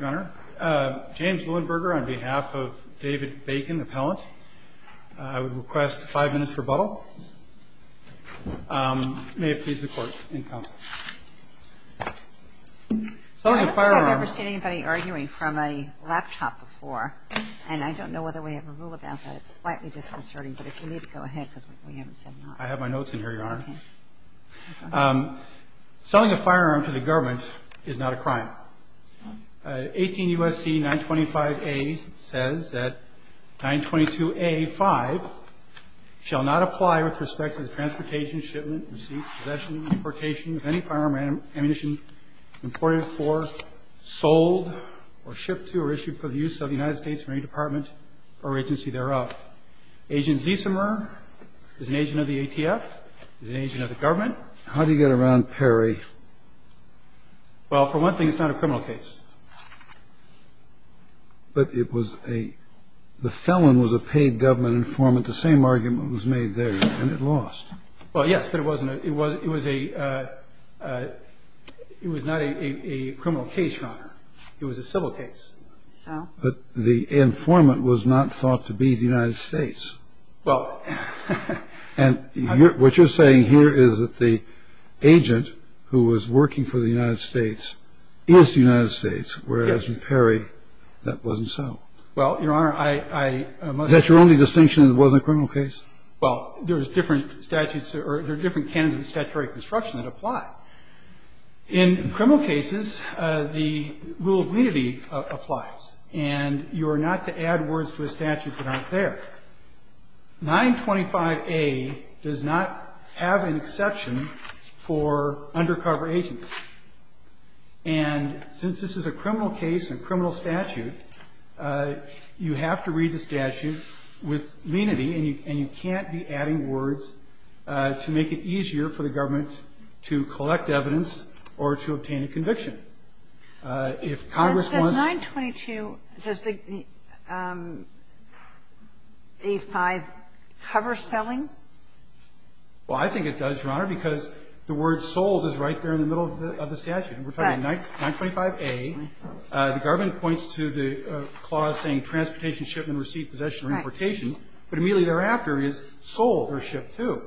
Your Honor, James Lillenberger on behalf of David Bacon, appellant. I would request five minutes for rebuttal. May it please the Court. I don't think I've ever seen anybody arguing from a laptop before, and I don't know whether we have a rule about that. It's slightly disconcerting, but if you need to go ahead, because we haven't said nothing. I have my notes in here, Your Honor. Selling a firearm to the government is not a crime. 18 U.S.C. 925A says that 922A5 shall not apply with respect to the transportation, shipment, receipt, possession, deportation of any firearm or ammunition reported for, sold, or shipped to, or issued for the use of the United States Marine Department or agency thereof. Agent Ziesemer is an agent of the ATF, is an agent of the government. How do you get around Perry? Well, for one thing, it's not a criminal case. But it was a the felon was a paid government informant. The same argument was made there, and it lost. Well, yes, but it wasn't a – it was a – it was not a criminal case, Your Honor. It was a civil case. So? But the informant was not thought to be the United States. Well – And what you're saying here is that the agent who was working for the United States is the United States. Yes. Whereas in Perry, that wasn't so. Well, Your Honor, I must – Is that your only distinction that it wasn't a criminal case? Well, there's different statutes – or there are different canons of statutory construction that apply. In criminal cases, the rule of lenity applies. And you are not to add words to a statute that aren't there. 925A does not have an exception for undercover agents. And since this is a criminal case and criminal statute, you have to read the statute with lenity, and you can't be adding words to make it easier for the government to collect evidence or to obtain a conviction. If Congress wants – Does 922 – does the A5 cover selling? Well, I think it does, Your Honor, because the word sold is right there in the middle of the statute. Right. And we're talking 925A. The government points to the clause saying transportation, shipment, receipt, possession, or importation. Right. But immediately thereafter is sold or shipped to.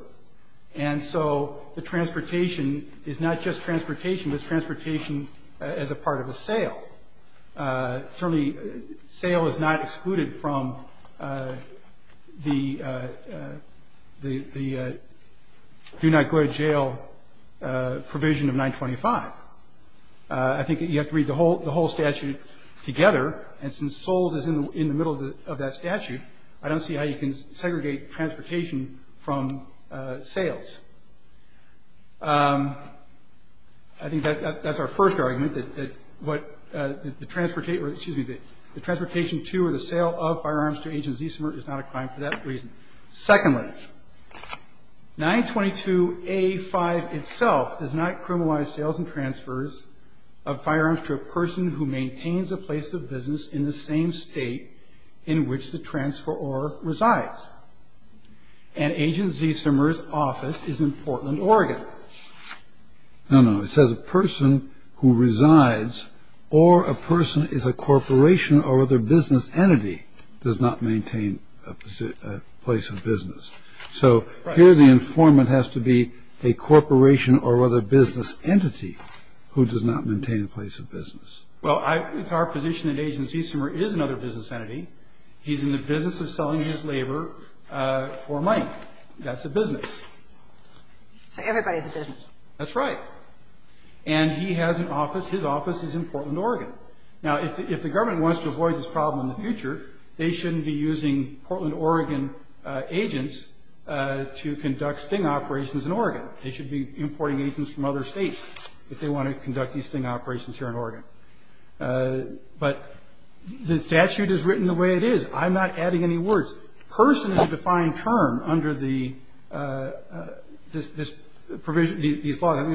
And so the transportation is not just transportation. It's transportation as a part of a sale. Certainly, sale is not excluded from the do-not-go-to-jail provision of 925. I think you have to read the whole statute together, and since sold is in the middle of that statute, I don't see how you can segregate transportation from sales. I think that's our first argument, that what the transportation to or the sale of firearms to Agent Zissimer is not a crime for that reason. Secondly, 922A5 itself does not criminalize sales and transfers of firearms to a person who maintains a place of business in the same state in which the transferor resides. And Agent Zissimer's office is in Portland, Oregon. No, no. It says a person who resides or a person is a corporation or other business entity does not maintain a place of business. So here the informant has to be a corporation or other business entity who does not maintain a place of business. Well, it's our position that Agent Zissimer is another business entity. He's in the business of selling his labor for money. That's a business. So everybody's a business. That's right. And he has an office. His office is in Portland, Oregon. Now, if the government wants to avoid this problem in the future, they shouldn't be using Portland, Oregon agents to conduct sting operations in Oregon. They should be importing agents from other states if they want to conduct these sting operations here in Oregon. But the statute is written the way it is. I'm not adding any words. Person is a defined term under the law. I think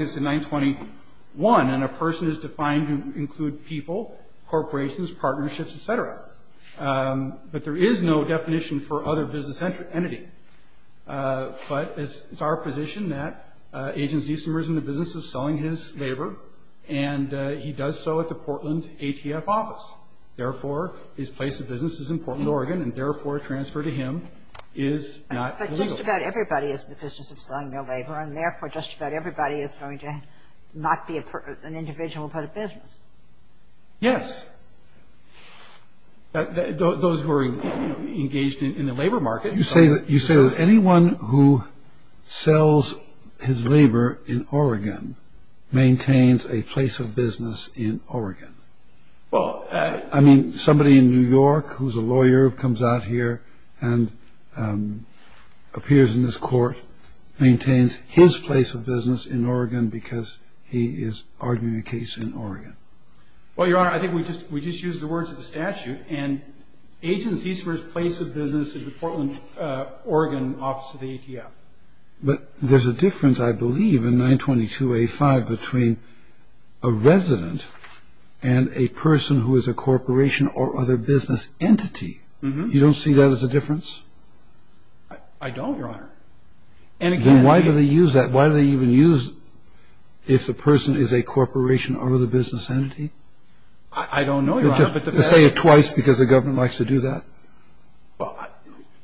it's in 921. And a person is defined to include people, corporations, partnerships, et cetera. But there is no definition for other business entity. But it's our position that Agent Zissimer is in the business of selling his labor, and he does so at the Portland ATF office. Therefore, his place of business is in Portland, Oregon, and, therefore, a transfer to him is not illegal. But just about everybody is in the business of selling their labor, and, therefore, just about everybody is going to not be an individual but a business. Yes. Those who are engaged in the labor market. You say that anyone who sells his labor in Oregon maintains a place of business in Oregon. I mean, somebody in New York who's a lawyer who comes out here and appears in this court maintains his place of business in Oregon because he is arguing a case in Oregon. Well, Your Honor, I think we just used the words of the statute, and Agent Zissimer's place of business is the Portland, Oregon, office of the ATF. But there's a difference, I believe, in 922A5 between a resident and a person who is a corporation or other business entity. You don't see that as a difference? I don't, Your Honor. Then why do they use that? Why do they even use if the person is a corporation or other business entity? I don't know, Your Honor. To say it twice because the government likes to do that? Well,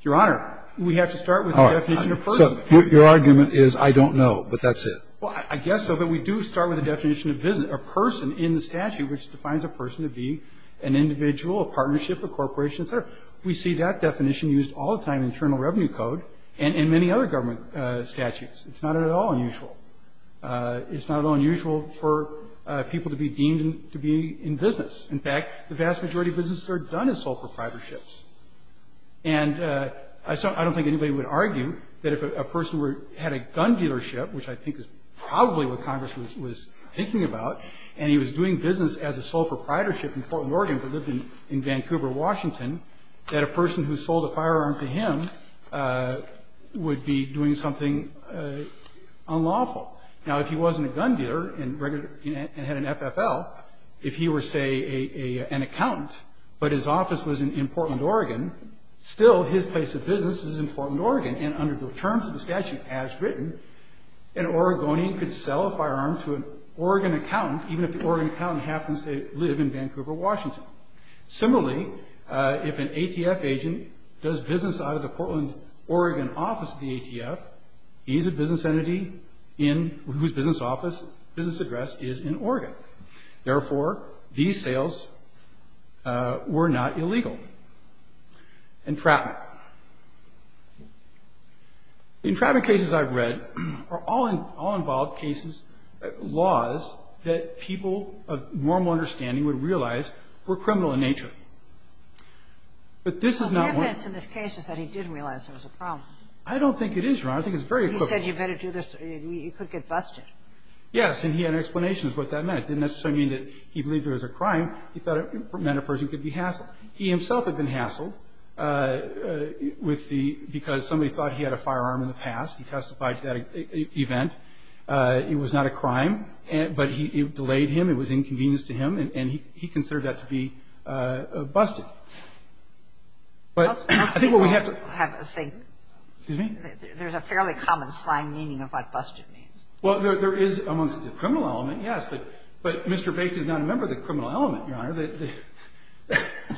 Your Honor, we have to start with the definition of person. So your argument is I don't know, but that's it? Well, I guess so. But we do start with the definition of a person in the statute, which defines a person to be an individual, a partnership, a corporation, et cetera. We see that definition used all the time in Internal Revenue Code and in many other government statutes. It's not at all unusual. It's not at all unusual for people to be deemed to be in business. In fact, the vast majority of businesses are done as sole proprietorships. And I don't think anybody would argue that if a person had a gun dealership, which I think is probably what Congress was thinking about, and he was doing business as a sole proprietorship in Fort Morgan but lived in Vancouver, Washington, that a person who sold a firearm to him would be doing something unlawful. Now, if he wasn't a gun dealer and had an FFL, if he were, say, an accountant, but his office was in Portland, Oregon, still his place of business is in Portland, Oregon. And under the terms of the statute as written, an Oregonian could sell a firearm to an Oregon accountant, even if the Oregon accountant happens to live in Vancouver, Washington. Similarly, if an ATF agent does business out of the Portland, Oregon office of the ATF, he's a business entity whose business address is in Oregon. Therefore, these sales were not illegal. Entrapment. The entrapment cases I've read are all involved cases, laws that people of normal understanding would realize were criminal in nature. But this is not one of them. The evidence in this case is that he didn't realize it was a problem. I don't think it is, Your Honor. I think it's very equivalent. He said you better do this or you could get busted. Yes, and he had an explanation of what that meant. It didn't necessarily mean that he believed it was a crime. He thought it meant a person could be hassled. He himself had been hassled because somebody thought he had a firearm in the past. He testified to that event. It was not a crime. But it delayed him. It was inconvenience to him. And he considered that to be busted. But I think what we have to – There's a fairly common slang meaning of what busted means. Well, there is amongst the criminal element, yes. But Mr. Baker is not a member of the criminal element, Your Honor.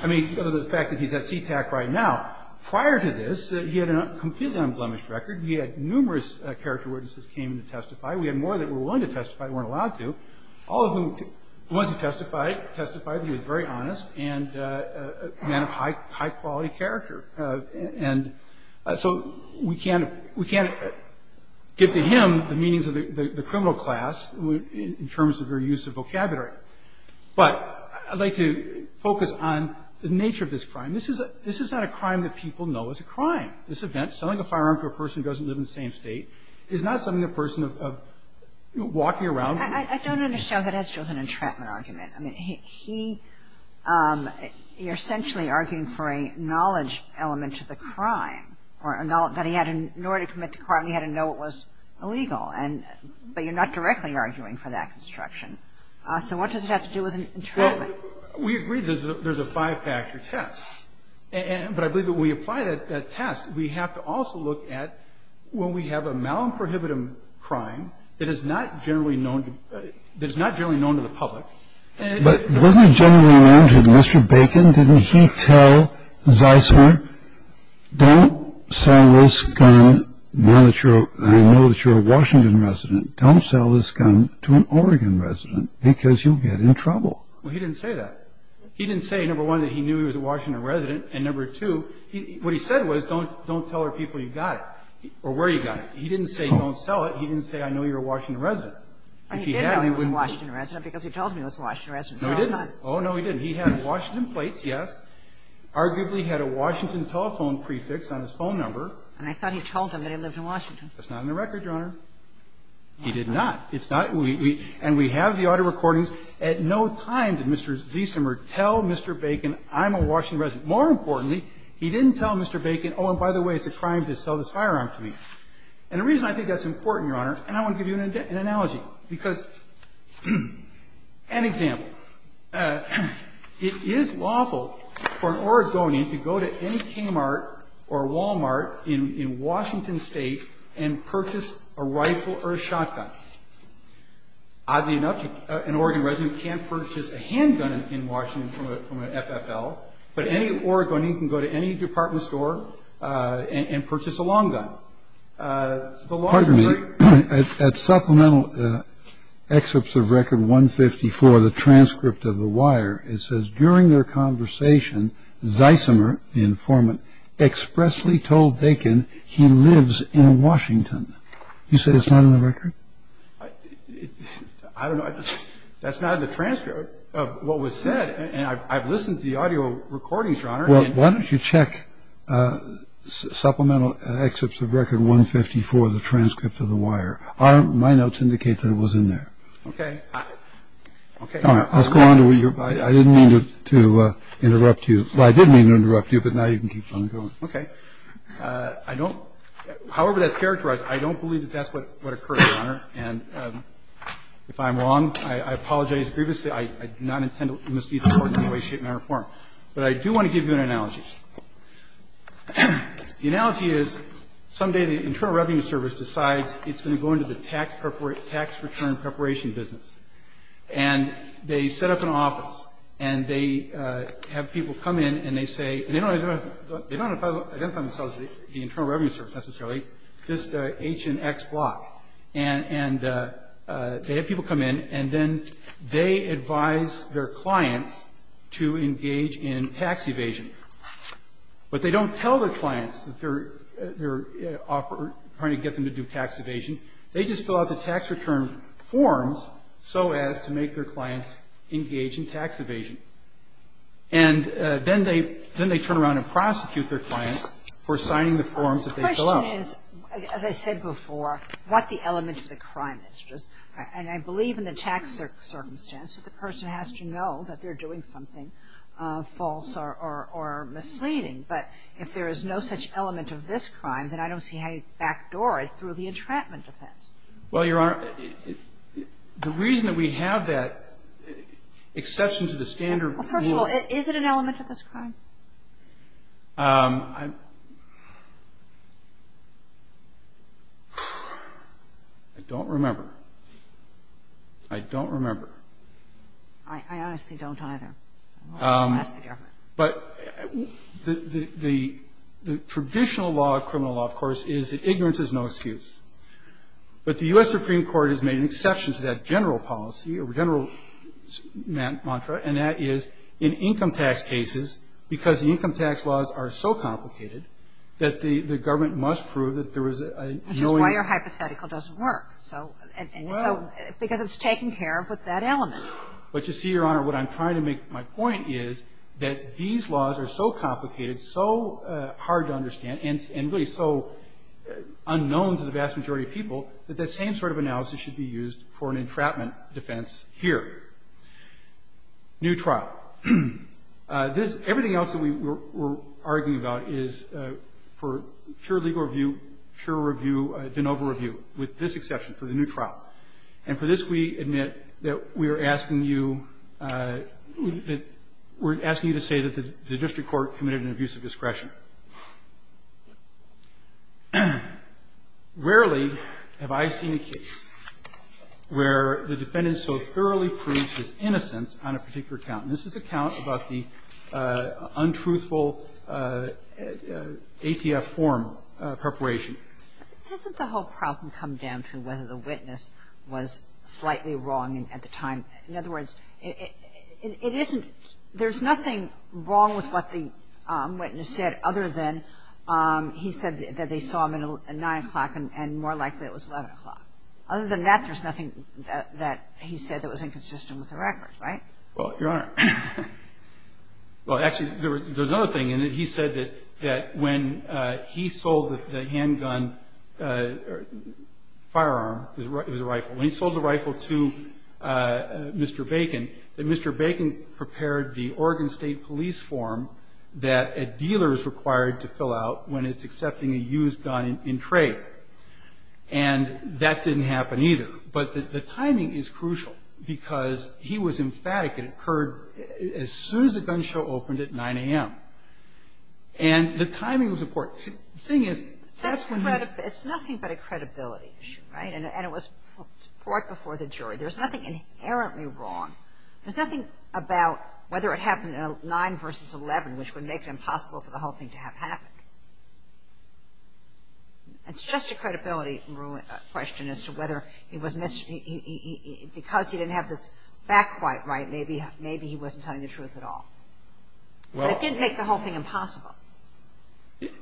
I mean, the fact that he's at CTAC right now. Prior to this, he had a completely unblemished record. He had numerous character witnesses came in to testify. We had more that were willing to testify, weren't allowed to. All of them, the ones who testified, testified that he was very honest and a man of high quality character. And so we can't – we can't get to him the meanings of the criminal class in terms of their use of vocabulary. But I'd like to focus on the nature of this crime. This is not a crime that people know is a crime. This event, selling a firearm to a person who doesn't live in the same state, is not something a person walking around – I don't understand. That's just an entrapment argument. I mean, he – you're essentially arguing for a knowledge element to the crime that he had in order to commit the crime. He had to know it was illegal. But you're not directly arguing for that construction. So what does it have to do with entrapment? Well, we agree there's a five-factor test. But I believe that when we apply that test, we have to also look at when we have a malprohibitive crime that is not generally known to – that is not generally known to the public. But wasn't it generally known to Mr. Bacon? Didn't he tell Zeisler, don't sell this gun now that you're – now that you're a Washington resident, don't sell this gun to an Oregon resident because you'll get in trouble. Well, he didn't say that. He didn't say, number one, that he knew he was a Washington resident. And, number two, what he said was don't tell other people you got it or where you got it. He didn't say don't sell it. He didn't say I know you're a Washington resident. If he had, he wouldn't be. He did know he was a Washington resident because he told me he was a Washington resident. No, he didn't. Oh, no, he didn't. He had Washington plates, yes. Arguably had a Washington telephone prefix on his phone number. And I thought he told him that he lived in Washington. That's not on the record, Your Honor. He did not. It's not. And we have the auto recordings. At no time did Mr. Zeisler tell Mr. Bacon I'm a Washington resident. More importantly, he didn't tell Mr. Bacon, oh, and by the way, it's a crime to sell this firearm to me. And the reason I think that's important, Your Honor, and I want to give you an analogy because, an example, it is lawful for an Oregonian to go to any Kmart or Walmart in Washington State and purchase a rifle or a shotgun. Oddly enough, an Oregon resident can't purchase a handgun in Washington from an FFL, but any Oregonian can go to any department store and purchase a long gun. Pardon me. At supplemental excerpts of record 154, the transcript of the wire, it says, during their conversation, Zeisler, the informant, expressly told Bacon he lives in Washington. You say it's not on the record? I don't know. That's not in the transcript of what was said. And I've listened to the audio recordings, Your Honor. Well, why don't you check supplemental excerpts of record 154, the transcript of the wire. My notes indicate that it was in there. Okay. Okay. All right. I'll go on. I didn't mean to interrupt you. Well, I did mean to interrupt you, but now you can keep on going. Okay. I don't – however that's characterized, I don't believe that that's what occurred, Your Honor. And if I'm wrong, I apologize. Previously, I do not intend to mislead the Court in any way, shape, matter or form. But I do want to give you an analogy. The analogy is someday the Internal Revenue Service decides it's going to go into the tax return preparation business. And they set up an office, and they have people come in, and they say – and they don't identify themselves as the Internal Revenue Service necessarily, just H and X block. And they have people come in, and then they advise their clients to engage in tax evasion. But they don't tell their clients that they're trying to get them to do tax evasion. They just fill out the tax return forms so as to make their clients engage in tax evasion. And then they turn around and prosecute their clients for signing the forms that they fill out. The question is, as I said before, what the element of the crime is. And I believe in the tax circumstance that the person has to know that they're doing something false or misleading. But if there is no such element of this crime, then I don't see how you backdoor it through the entrapment offense. Well, Your Honor, the reason that we have that exception to the standard for – Well, first of all, is it an element of this crime? I don't remember. I don't remember. I honestly don't either. But the traditional law of criminal law, of course, is that ignorance is no excuse. But the U.S. Supreme Court has made an exception to that general policy or general mantra, and that is in income tax cases, because the income tax laws are so complicated that the government must prove that there is a Which is why your hypothetical doesn't work. Because it's taken care of with that element. But you see, Your Honor, what I'm trying to make my point is that these laws are so complicated, so hard to understand, and really so unknown to the vast majority of people, that that same sort of analysis should be used for an entrapment defense here. New trial. This – everything else that we're arguing about is for pure legal review, pure review, de novo review, with this exception for the new trial. And for this, we admit that we are asking you – we're asking you to say that the district court committed an abuse of discretion. Rarely have I seen a case where the defendant so thoroughly proves his innocence on a particular count. And this is a count about the untruthful ATF form preparation. Hasn't the whole problem come down to whether the witness was slightly wrong at the time? In other words, it isn't – there's nothing wrong with what the witness said, other than he said that they saw him at 9 o'clock and more likely it was 11 o'clock. Other than that, there's nothing that he said that was inconsistent with the record, right? Well, Your Honor, well, actually, there's another thing in it. He said that when he sold the handgun – firearm, it was a rifle. When he sold the rifle to Mr. Bacon, that Mr. Bacon prepared the Oregon State Police form that a dealer is required to fill out when it's accepting a used gun in trade. And that didn't happen either. But the timing is crucial, because he was emphatic. It occurred as soon as the gun show opened at 9 a.m. And the timing was important. The thing is, that's when he's – It's nothing but a credibility issue, right? And it was brought before the jury. There's nothing inherently wrong. There's nothing about whether it happened at 9 versus 11, which would make it impossible for the whole thing to have happened. It's just a credibility question as to whether he was – because he didn't have this fact quite right, maybe he wasn't telling the truth at all. But it didn't make the whole thing impossible.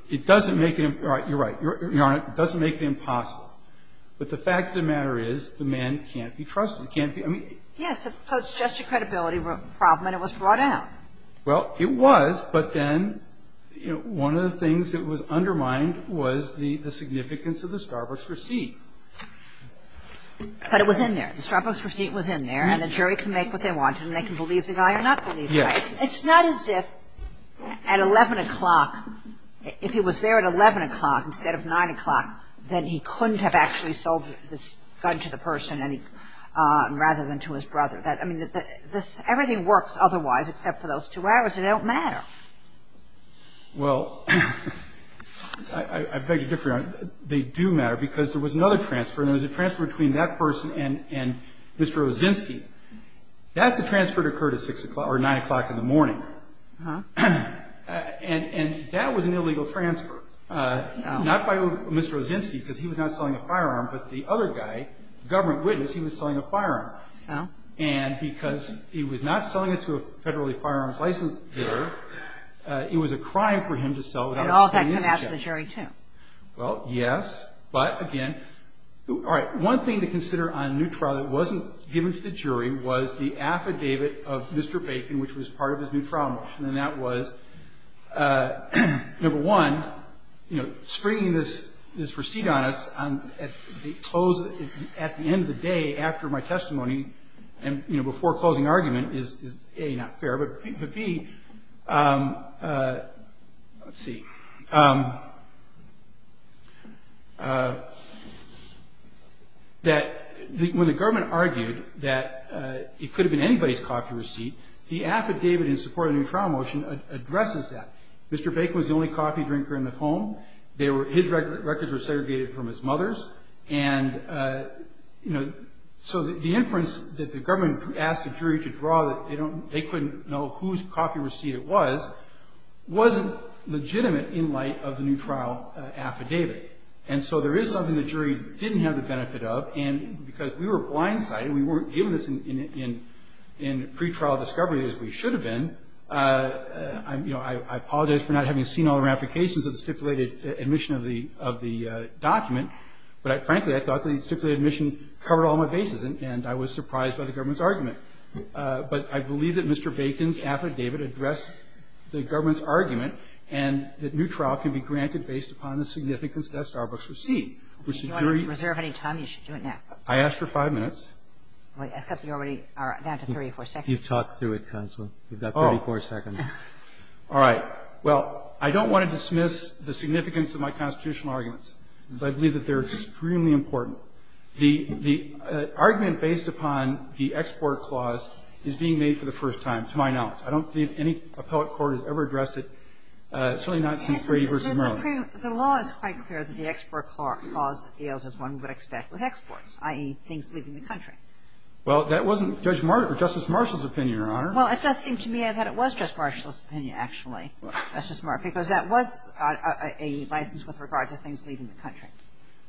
It doesn't make it – you're right. Your Honor, it doesn't make it impossible. But the fact of the matter is, the man can't be trusted. He can't be – I mean – Yes. So it's just a credibility problem, and it was brought out. Well, it was, but then one of the things that was undermined was the significance of the Starbucks receipt. But it was in there. The Starbucks receipt was in there. And the jury can make what they want, and they can believe the guy or not believe the guy. Yes. It's not as if at 11 o'clock – if he was there at 11 o'clock instead of 9 o'clock, then he couldn't have actually sold this gun to the person rather than to his brother. I mean, everything works otherwise except for those two hours. It don't matter. Well, I beg to differ, Your Honor. They do matter because there was another transfer, and it was a transfer between that person and Mr. Ozynski. That's a transfer that occurred at 9 o'clock in the morning. And that was an illegal transfer, not by Mr. Ozynski. Because he was not selling a firearm, but the other guy, the government witness, he was selling a firearm. So? And because he was not selling it to a federally firearms licensed dealer, it was a crime for him to sell it out of his ownership. And all of that came out to the jury, too. Well, yes. But, again, all right, one thing to consider on a new trial that wasn't given to the jury was the affidavit of Mr. Bacon, which was part of his new trial motion. And that was, number one, you know, springing this receipt on us at the end of the day after my testimony and, you know, before closing argument is, A, not fair, but, B, let's see, that when the government argued that it could have been anybody's copy receipt, the affidavit in support of the new trial motion addresses that. Mr. Bacon was the only coffee drinker in the home. His records were segregated from his mother's. And, you know, so the inference that the government asked the jury to draw that they couldn't know whose copy receipt it was wasn't legitimate in light of the new trial affidavit. And so there is something the jury didn't have the benefit of. And because we were blindsided, we weren't given this in pretrial discovery as we should have been, you know, I apologize for not having seen all the ramifications of the stipulated admission of the document. But, frankly, I thought the stipulated admission covered all my bases, and I was surprised by the government's argument. But I believe that Mr. Bacon's affidavit addressed the government's argument and that new trial can be granted based upon the significance that Starbucks received. If you want to reserve any time, you should do it now. I asked for five minutes. Except you already are down to 34 seconds. You've talked through it, counsel. You've got 34 seconds. All right. Well, I don't want to dismiss the significance of my constitutional arguments because I believe that they're extremely important. The argument based upon the export clause is being made for the first time to my knowledge. I don't believe any appellate court has ever addressed it, certainly not since Brady v. Merlin. The law is quite clear that the export clause deals as one would expect with exports, i.e., things leaving the country. Well, that wasn't Justice Marshall's opinion, Your Honor. Well, it does seem to me that it was Justice Marshall's opinion, actually, Justice Marshall, because that was a license with regard to things leaving the country.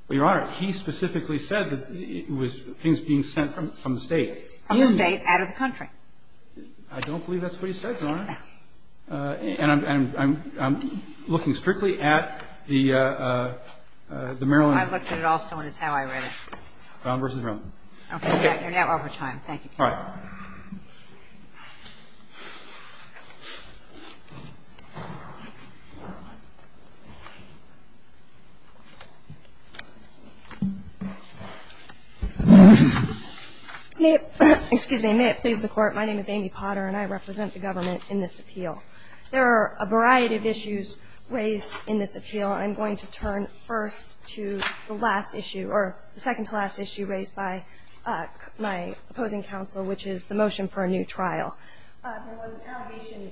Well, Your Honor, he specifically said that it was things being sent from the State. From the State out of the country. I don't believe that's what he said, Your Honor. And I'm looking strictly at the Merlin. I looked at it also, and it's how I read it. Brown v. Merlin. Okay. You're now over time. Thank you. All right. May it please the Court. My name is Amy Potter, and I represent the government in this appeal. There are a variety of issues raised in this appeal, and I'm going to turn first to the last issue, or the second-to-last issue raised by my opposing counsel, which is the motion for a new trial. There was an allegation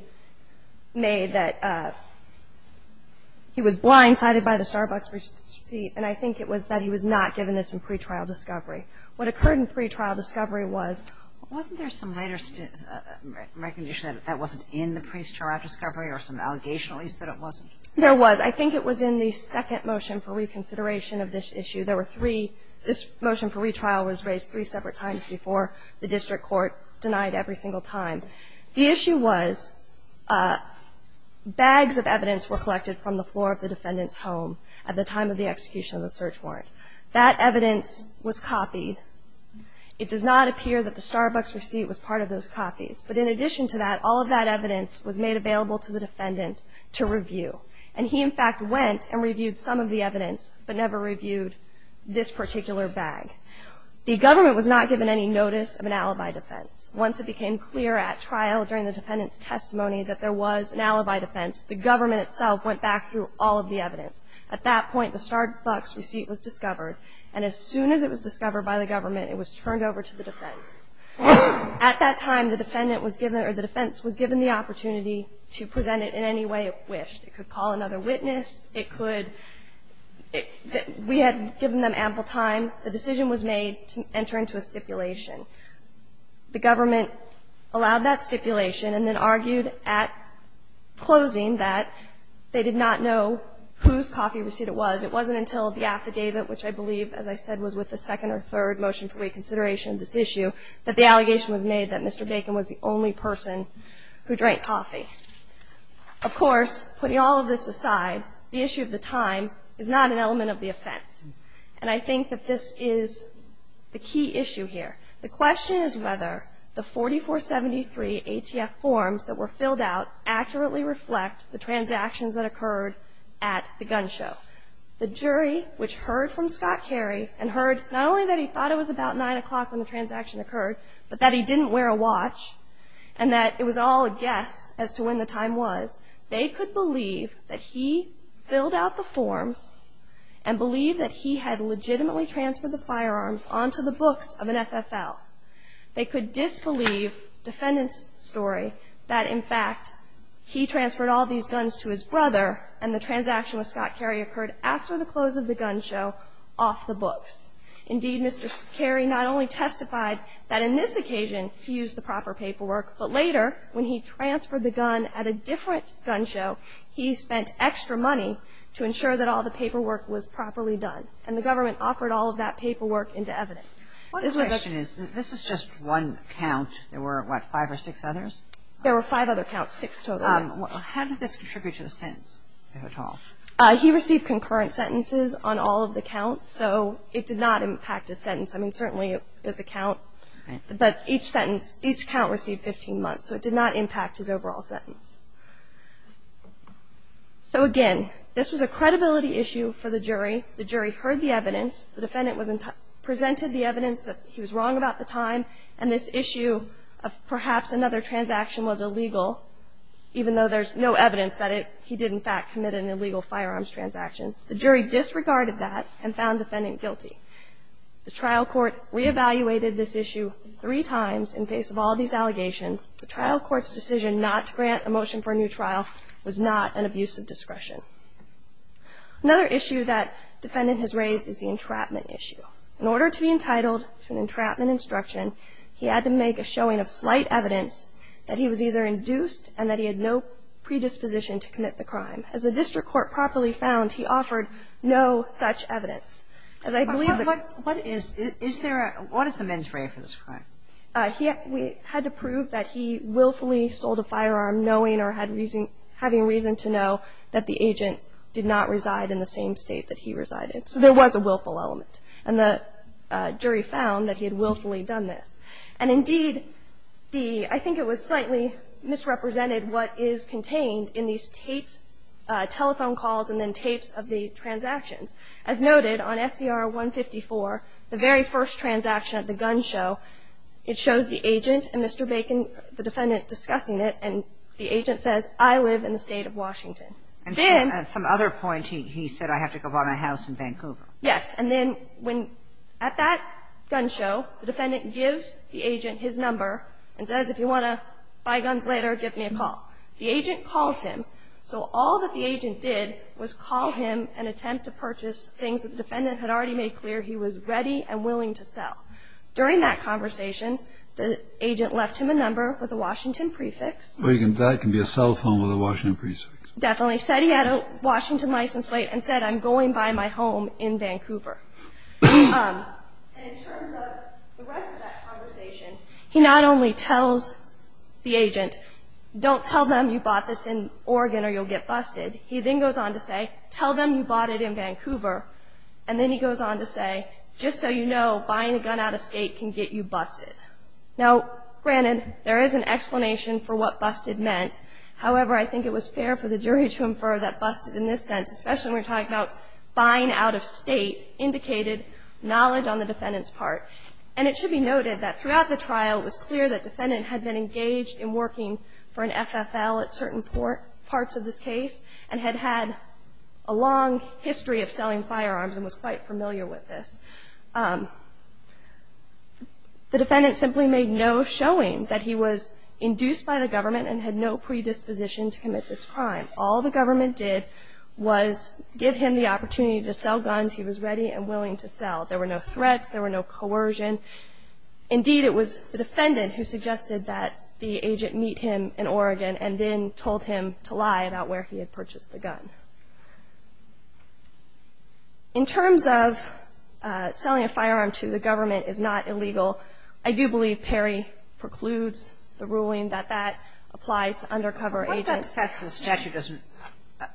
made that he was blindsided by the Starbucks receipt, and I think it was that he was not given this in pretrial discovery. What occurred in pretrial discovery was, wasn't there some later recognition that that wasn't in the pre-trial discovery or some allegation at least that it wasn't? There was. I think it was in the second motion for reconsideration of this issue. There were three. This motion for retrial was raised three separate times before the district court denied every single time. The issue was bags of evidence were collected from the floor of the defendant's home at the time of the execution of the search warrant. That evidence was copied. It does not appear that the Starbucks receipt was part of those copies, but in addition to that, all of that evidence was made available to the defendant to review, and he, in fact, went and reviewed some of the evidence but never reviewed this particular bag. The government was not given any notice of an alibi defense. Once it became clear at trial during the defendant's testimony that there was an alibi defense, the government itself went back through all of the evidence. At that point, the Starbucks receipt was discovered, and as soon as it was discovered by the government, it was turned over to the defense. At that time, the defense was given the opportunity to present it in any way it wished. It could call another witness. We had given them ample time. The decision was made to enter into a stipulation. The government allowed that stipulation and then argued at closing that they did not know whose coffee receipt it was. It wasn't until the affidavit, which I believe, as I said, was with the second or third motion for reconsideration of this issue, that the allegation was made that Mr. Bacon was the only person who drank coffee. Of course, putting all of this aside, the issue of the time is not an element of the offense, and I think that this is the key issue here. The question is whether the 4473 ATF forms that were filled out accurately reflect the transactions that occurred at the gun show. The jury, which heard from Scott Carey, and heard not only that he thought it was about 9 o'clock when the transaction occurred, but that he didn't wear a watch, and that it was all a guess as to when the time was, they could believe that he filled out the forms and believe that he had legitimately transferred the firearms onto the books of an FFL. They could disbelieve defendant's story that, in fact, he transferred all these guns to his brother, and the transaction with Scott Carey occurred after the close of the gun show off the books. Indeed, Mr. Carey not only testified that in this occasion he used the proper paperwork, but later, when he transferred the gun at a different gun show, he spent extra money to ensure that all the paperwork was properly done, and the government offered all of that paperwork into evidence. What is the question? This is just one count. There were, what, five or six others? There were five other counts, six total. How did this contribute to the sentence, if at all? He received concurrent sentences on all of the counts, so it did not impact his sentence. I mean, certainly it was a count. But each sentence, each count received 15 months, so it did not impact his overall sentence. So, again, this was a credibility issue for the jury. The jury heard the evidence. The defendant presented the evidence that he was wrong about the time, and this issue of perhaps another transaction was illegal, even though there's no evidence that he did, in fact, commit an illegal firearms transaction. The jury disregarded that and found defendant guilty. The trial court reevaluated this issue three times in face of all these allegations. The trial court's decision not to grant a motion for a new trial was not an abuse of discretion. Another issue that defendant has raised is the entrapment issue. In order to be entitled to an entrapment instruction, he had to make a showing of slight evidence that he was either induced and that he had no predisposition to commit the crime. As the district court properly found, he offered no such evidence. As I believe that the ---- What is, is there a, what is the mens rea for this crime? We had to prove that he willfully sold a firearm knowing or had reason, having reason to know that the agent did not reside in the same state that he resided. So there was a willful element, and the jury found that he had willfully done this. And indeed, the, I think it was slightly misrepresented what is contained in these tapes, telephone calls and then tapes of the transactions. As noted, on SCR 154, the very first transaction at the gun show, it shows the agent and Mr. Bacon, the defendant, discussing it, and the agent says, I live in the State of Washington. Then ---- And at some other point, he said, I have to go buy my house in Vancouver. Yes. And then when, at that gun show, the defendant gives the agent his number and says, if you want to buy guns later, give me a call. The agent calls him. So all that the agent did was call him and attempt to purchase things that the defendant had already made clear he was ready and willing to sell. During that conversation, the agent left him a number with a Washington prefix. Well, that can be a cell phone with a Washington prefix. Definitely. Said he had a Washington license plate and said, I'm going to buy my home in Vancouver. And in terms of the rest of that conversation, he not only tells the agent, don't tell them you bought this in Oregon or you'll get busted. He then goes on to say, tell them you bought it in Vancouver. And then he goes on to say, just so you know, buying a gun out of State can get you busted. Now, granted, there is an explanation for what busted meant. However, I think it was fair for the jury to infer that busted in this sense, especially when we're talking about buying out of State, indicated knowledge on the defendant's part. And it should be noted that throughout the trial, it was clear that the defendant had been engaged in working for an FFL at certain parts of this case and had had a long history of selling firearms and was quite familiar with this. The defendant simply made no showing that he was induced by the government and had no predisposition to commit this crime. All the government did was give him the opportunity to sell guns he was ready and willing to sell. There were no threats. There were no coercion. Indeed, it was the defendant who suggested that the agent meet him in Oregon and then told him to lie about where he had purchased the gun. In terms of selling a firearm to the government is not illegal. I do believe Perry precludes the ruling that that applies to undercover agents. Kagan. What about the fact that the statute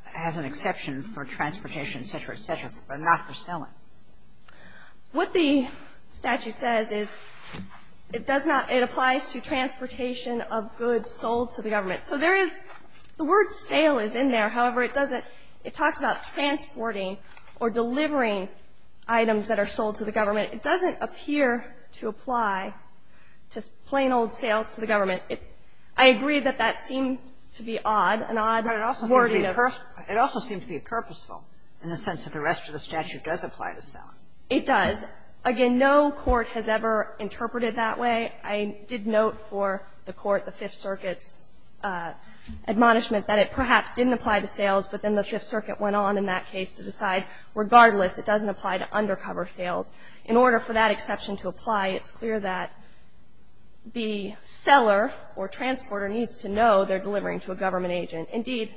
has an exception for transportation, et cetera, et cetera, but not for selling? What the statute says is it does not – it applies to transportation of goods sold to the government. So there is – the word sale is in there. However, it doesn't – it talks about transporting or delivering items that are sold to the government. It doesn't appear to apply to plain old sales to the government. I agree that that seems to be odd, an odd wording of – But it also seems to be purposeful in the sense that the rest of the statute does apply to selling. It does. Again, no court has ever interpreted that way. I did note for the court, the Fifth Circuit's admonishment that it perhaps didn't apply to sales, but then the Fifth Circuit went on in that case to decide regardless it doesn't apply to undercover sales. In order for that exception to apply, it's clear that the seller or transporter needs to know they're delivering to a government agent. Indeed,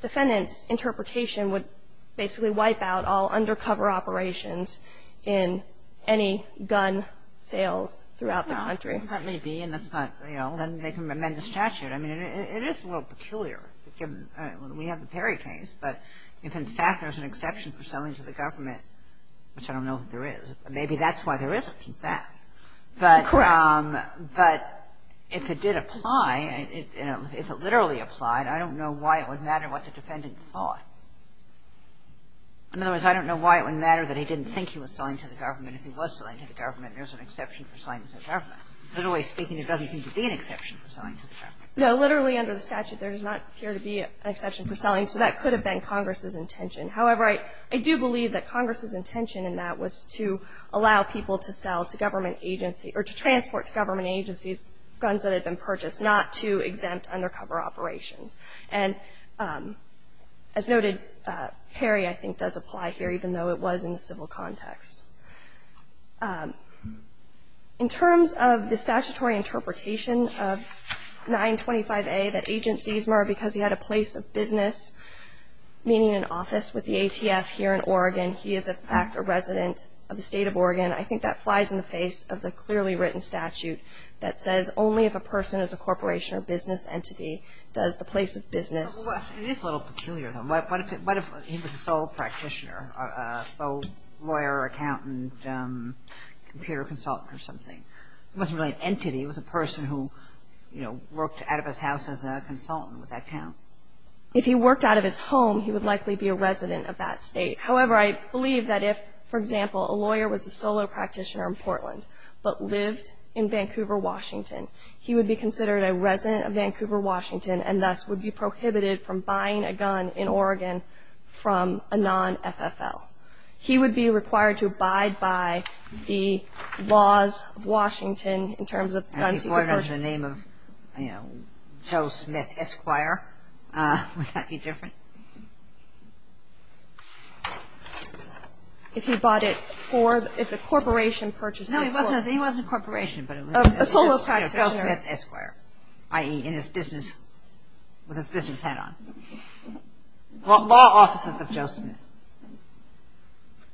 defendants' interpretation would basically wipe out all undercover operations in any gun sales throughout the country. That may be, and that's not – you know, then they can amend the statute. I mean, it is a little peculiar. We have the Perry case. But if, in fact, there's an exception for selling to the government, which I don't know that there is, maybe that's why there isn't, in fact. Correct. But if it did apply, if it literally applied, I don't know why it would matter what the defendant thought. In other words, I don't know why it would matter that he didn't think he was selling to the government. If he was selling to the government, there's an exception for selling to the government. Literally speaking, there doesn't seem to be an exception for selling to the government. No. Literally under the statute, there does not appear to be an exception for selling, so that could have been Congress's intention. However, I do believe that Congress's intention in that was to allow people to sell to government agency – or to transport to government agencies guns that had been purchased, not to exempt undercover operations. And as noted, Perry, I think, does apply here, even though it was in the civil context. In terms of the statutory interpretation of 925A, that Agent Ziesmer, because he had a place of business, meaning an office with the ATF here in Oregon, he is, in fact, a resident of the State of Oregon. I think that flies in the face of the clearly written statute that says only if a person is a corporation or business entity does the place of business. It is a little peculiar, though. What if he was a sole practitioner, a sole lawyer, accountant, computer consultant or something? It wasn't really an entity. It was a person who, you know, worked out of his house as a consultant. Would that count? If he worked out of his home, he would likely be a resident of that state. However, I believe that if, for example, a lawyer was a solo practitioner in Portland but lived in Vancouver, Washington, he would be considered a resident of Vancouver, Washington, and thus would be prohibited from buying a gun in Oregon from a non-FFL. He would be required to abide by the laws of Washington in terms of guns he purchased. If he bought it under the name of, you know, Joe Smith Esquire, would that be different? If he bought it for, if a corporation purchased it for... No, he wasn't a corporation, but it was... A solo practitioner. Joe Smith Esquire, i.e. in his business, with his business hat on. Law offices of Joe Smith.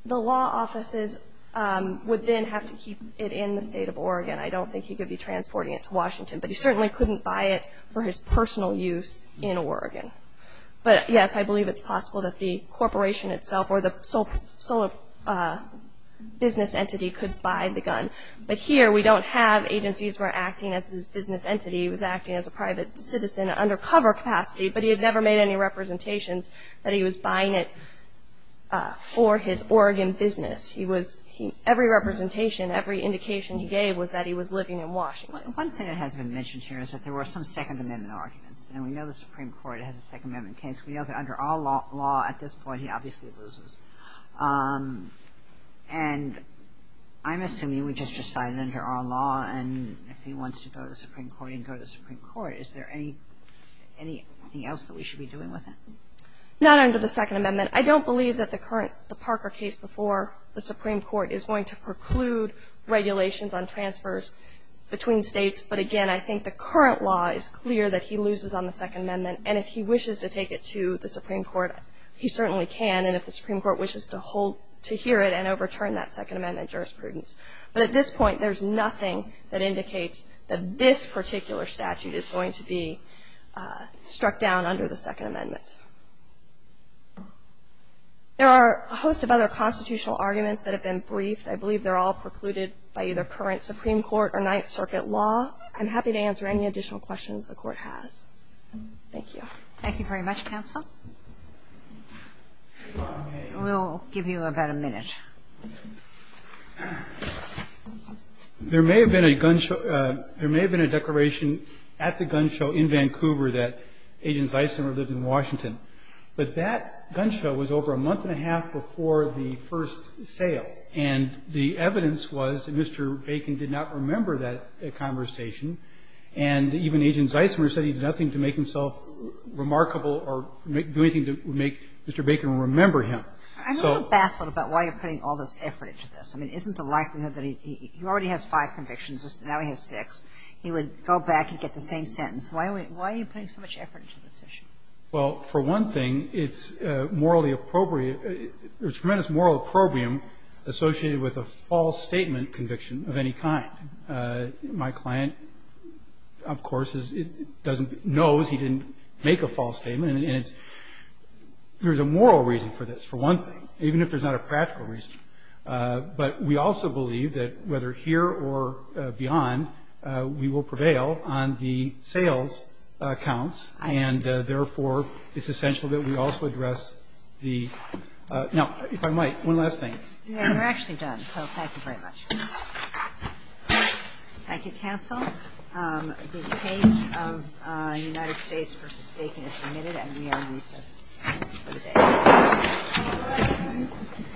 The law offices would then have to keep it in the State of Oregon. I don't think he could be transporting it to Washington, but he certainly couldn't buy it for his personal use in Oregon. But, yes, I believe it's possible that the corporation itself or the solo business entity could buy the gun. But here we don't have agencies who are acting as this business entity. He was acting as a private citizen in an undercover capacity, but he had never made any representations that he was buying it for his Oregon business. Every representation, every indication he gave was that he was living in Washington. One thing that hasn't been mentioned here is that there were some Second Amendment arguments, and we know the Supreme Court has a Second Amendment case. We know that under our law at this point, he obviously loses. And I'm assuming we just decided under our law, and if he wants to go to the Supreme Court, he can go to the Supreme Court. Is there anything else that we should be doing with him? Not under the Second Amendment. I don't believe that the Parker case before the Supreme Court is going to preclude regulations on transfers between states. But, again, I think the current law is clear that he loses on the Second Amendment, and if he wishes to take it to the Supreme Court, he certainly can. And if the Supreme Court wishes to hear it and overturn that Second Amendment jurisprudence. But at this point, there's nothing that indicates that this particular statute is going to be struck down under the Second Amendment. There are a host of other constitutional arguments that have been briefed. I believe they're all precluded by either current Supreme Court or Ninth Circuit law. I'm happy to answer any additional questions the Court has. Thank you. Thank you very much, counsel. We'll give you about a minute. There may have been a gun show at the gun show in Vancouver that agents Eisner lived in Washington. But that gun show was over a month and a half before the first sale. And the evidence was that Mr. Bacon did not remember that conversation. And even Agent Eisner said he did nothing to make himself remarkable or do anything to make Mr. Bacon remember him. I'm a little baffled about why you're putting all this effort into this. I mean, isn't the likelihood that he already has five convictions. Now he has six. He would go back and get the same sentence. Why are you putting so much effort into this issue? Well, for one thing, it's morally appropriate. There's tremendous moral opprobrium associated with a false statement conviction of any kind. My client, of course, knows he didn't make a false statement. And there's a moral reason for this, for one thing, even if there's not a practical reason. But we also believe that whether here or beyond, we will prevail on the sales accounts. And, therefore, it's essential that we also address the – now, if I might, one last thing. Yeah, we're actually done. So thank you very much. Thank you, counsel. The case of United States v. Bacon is submitted and we are recessed for the day. Thank you.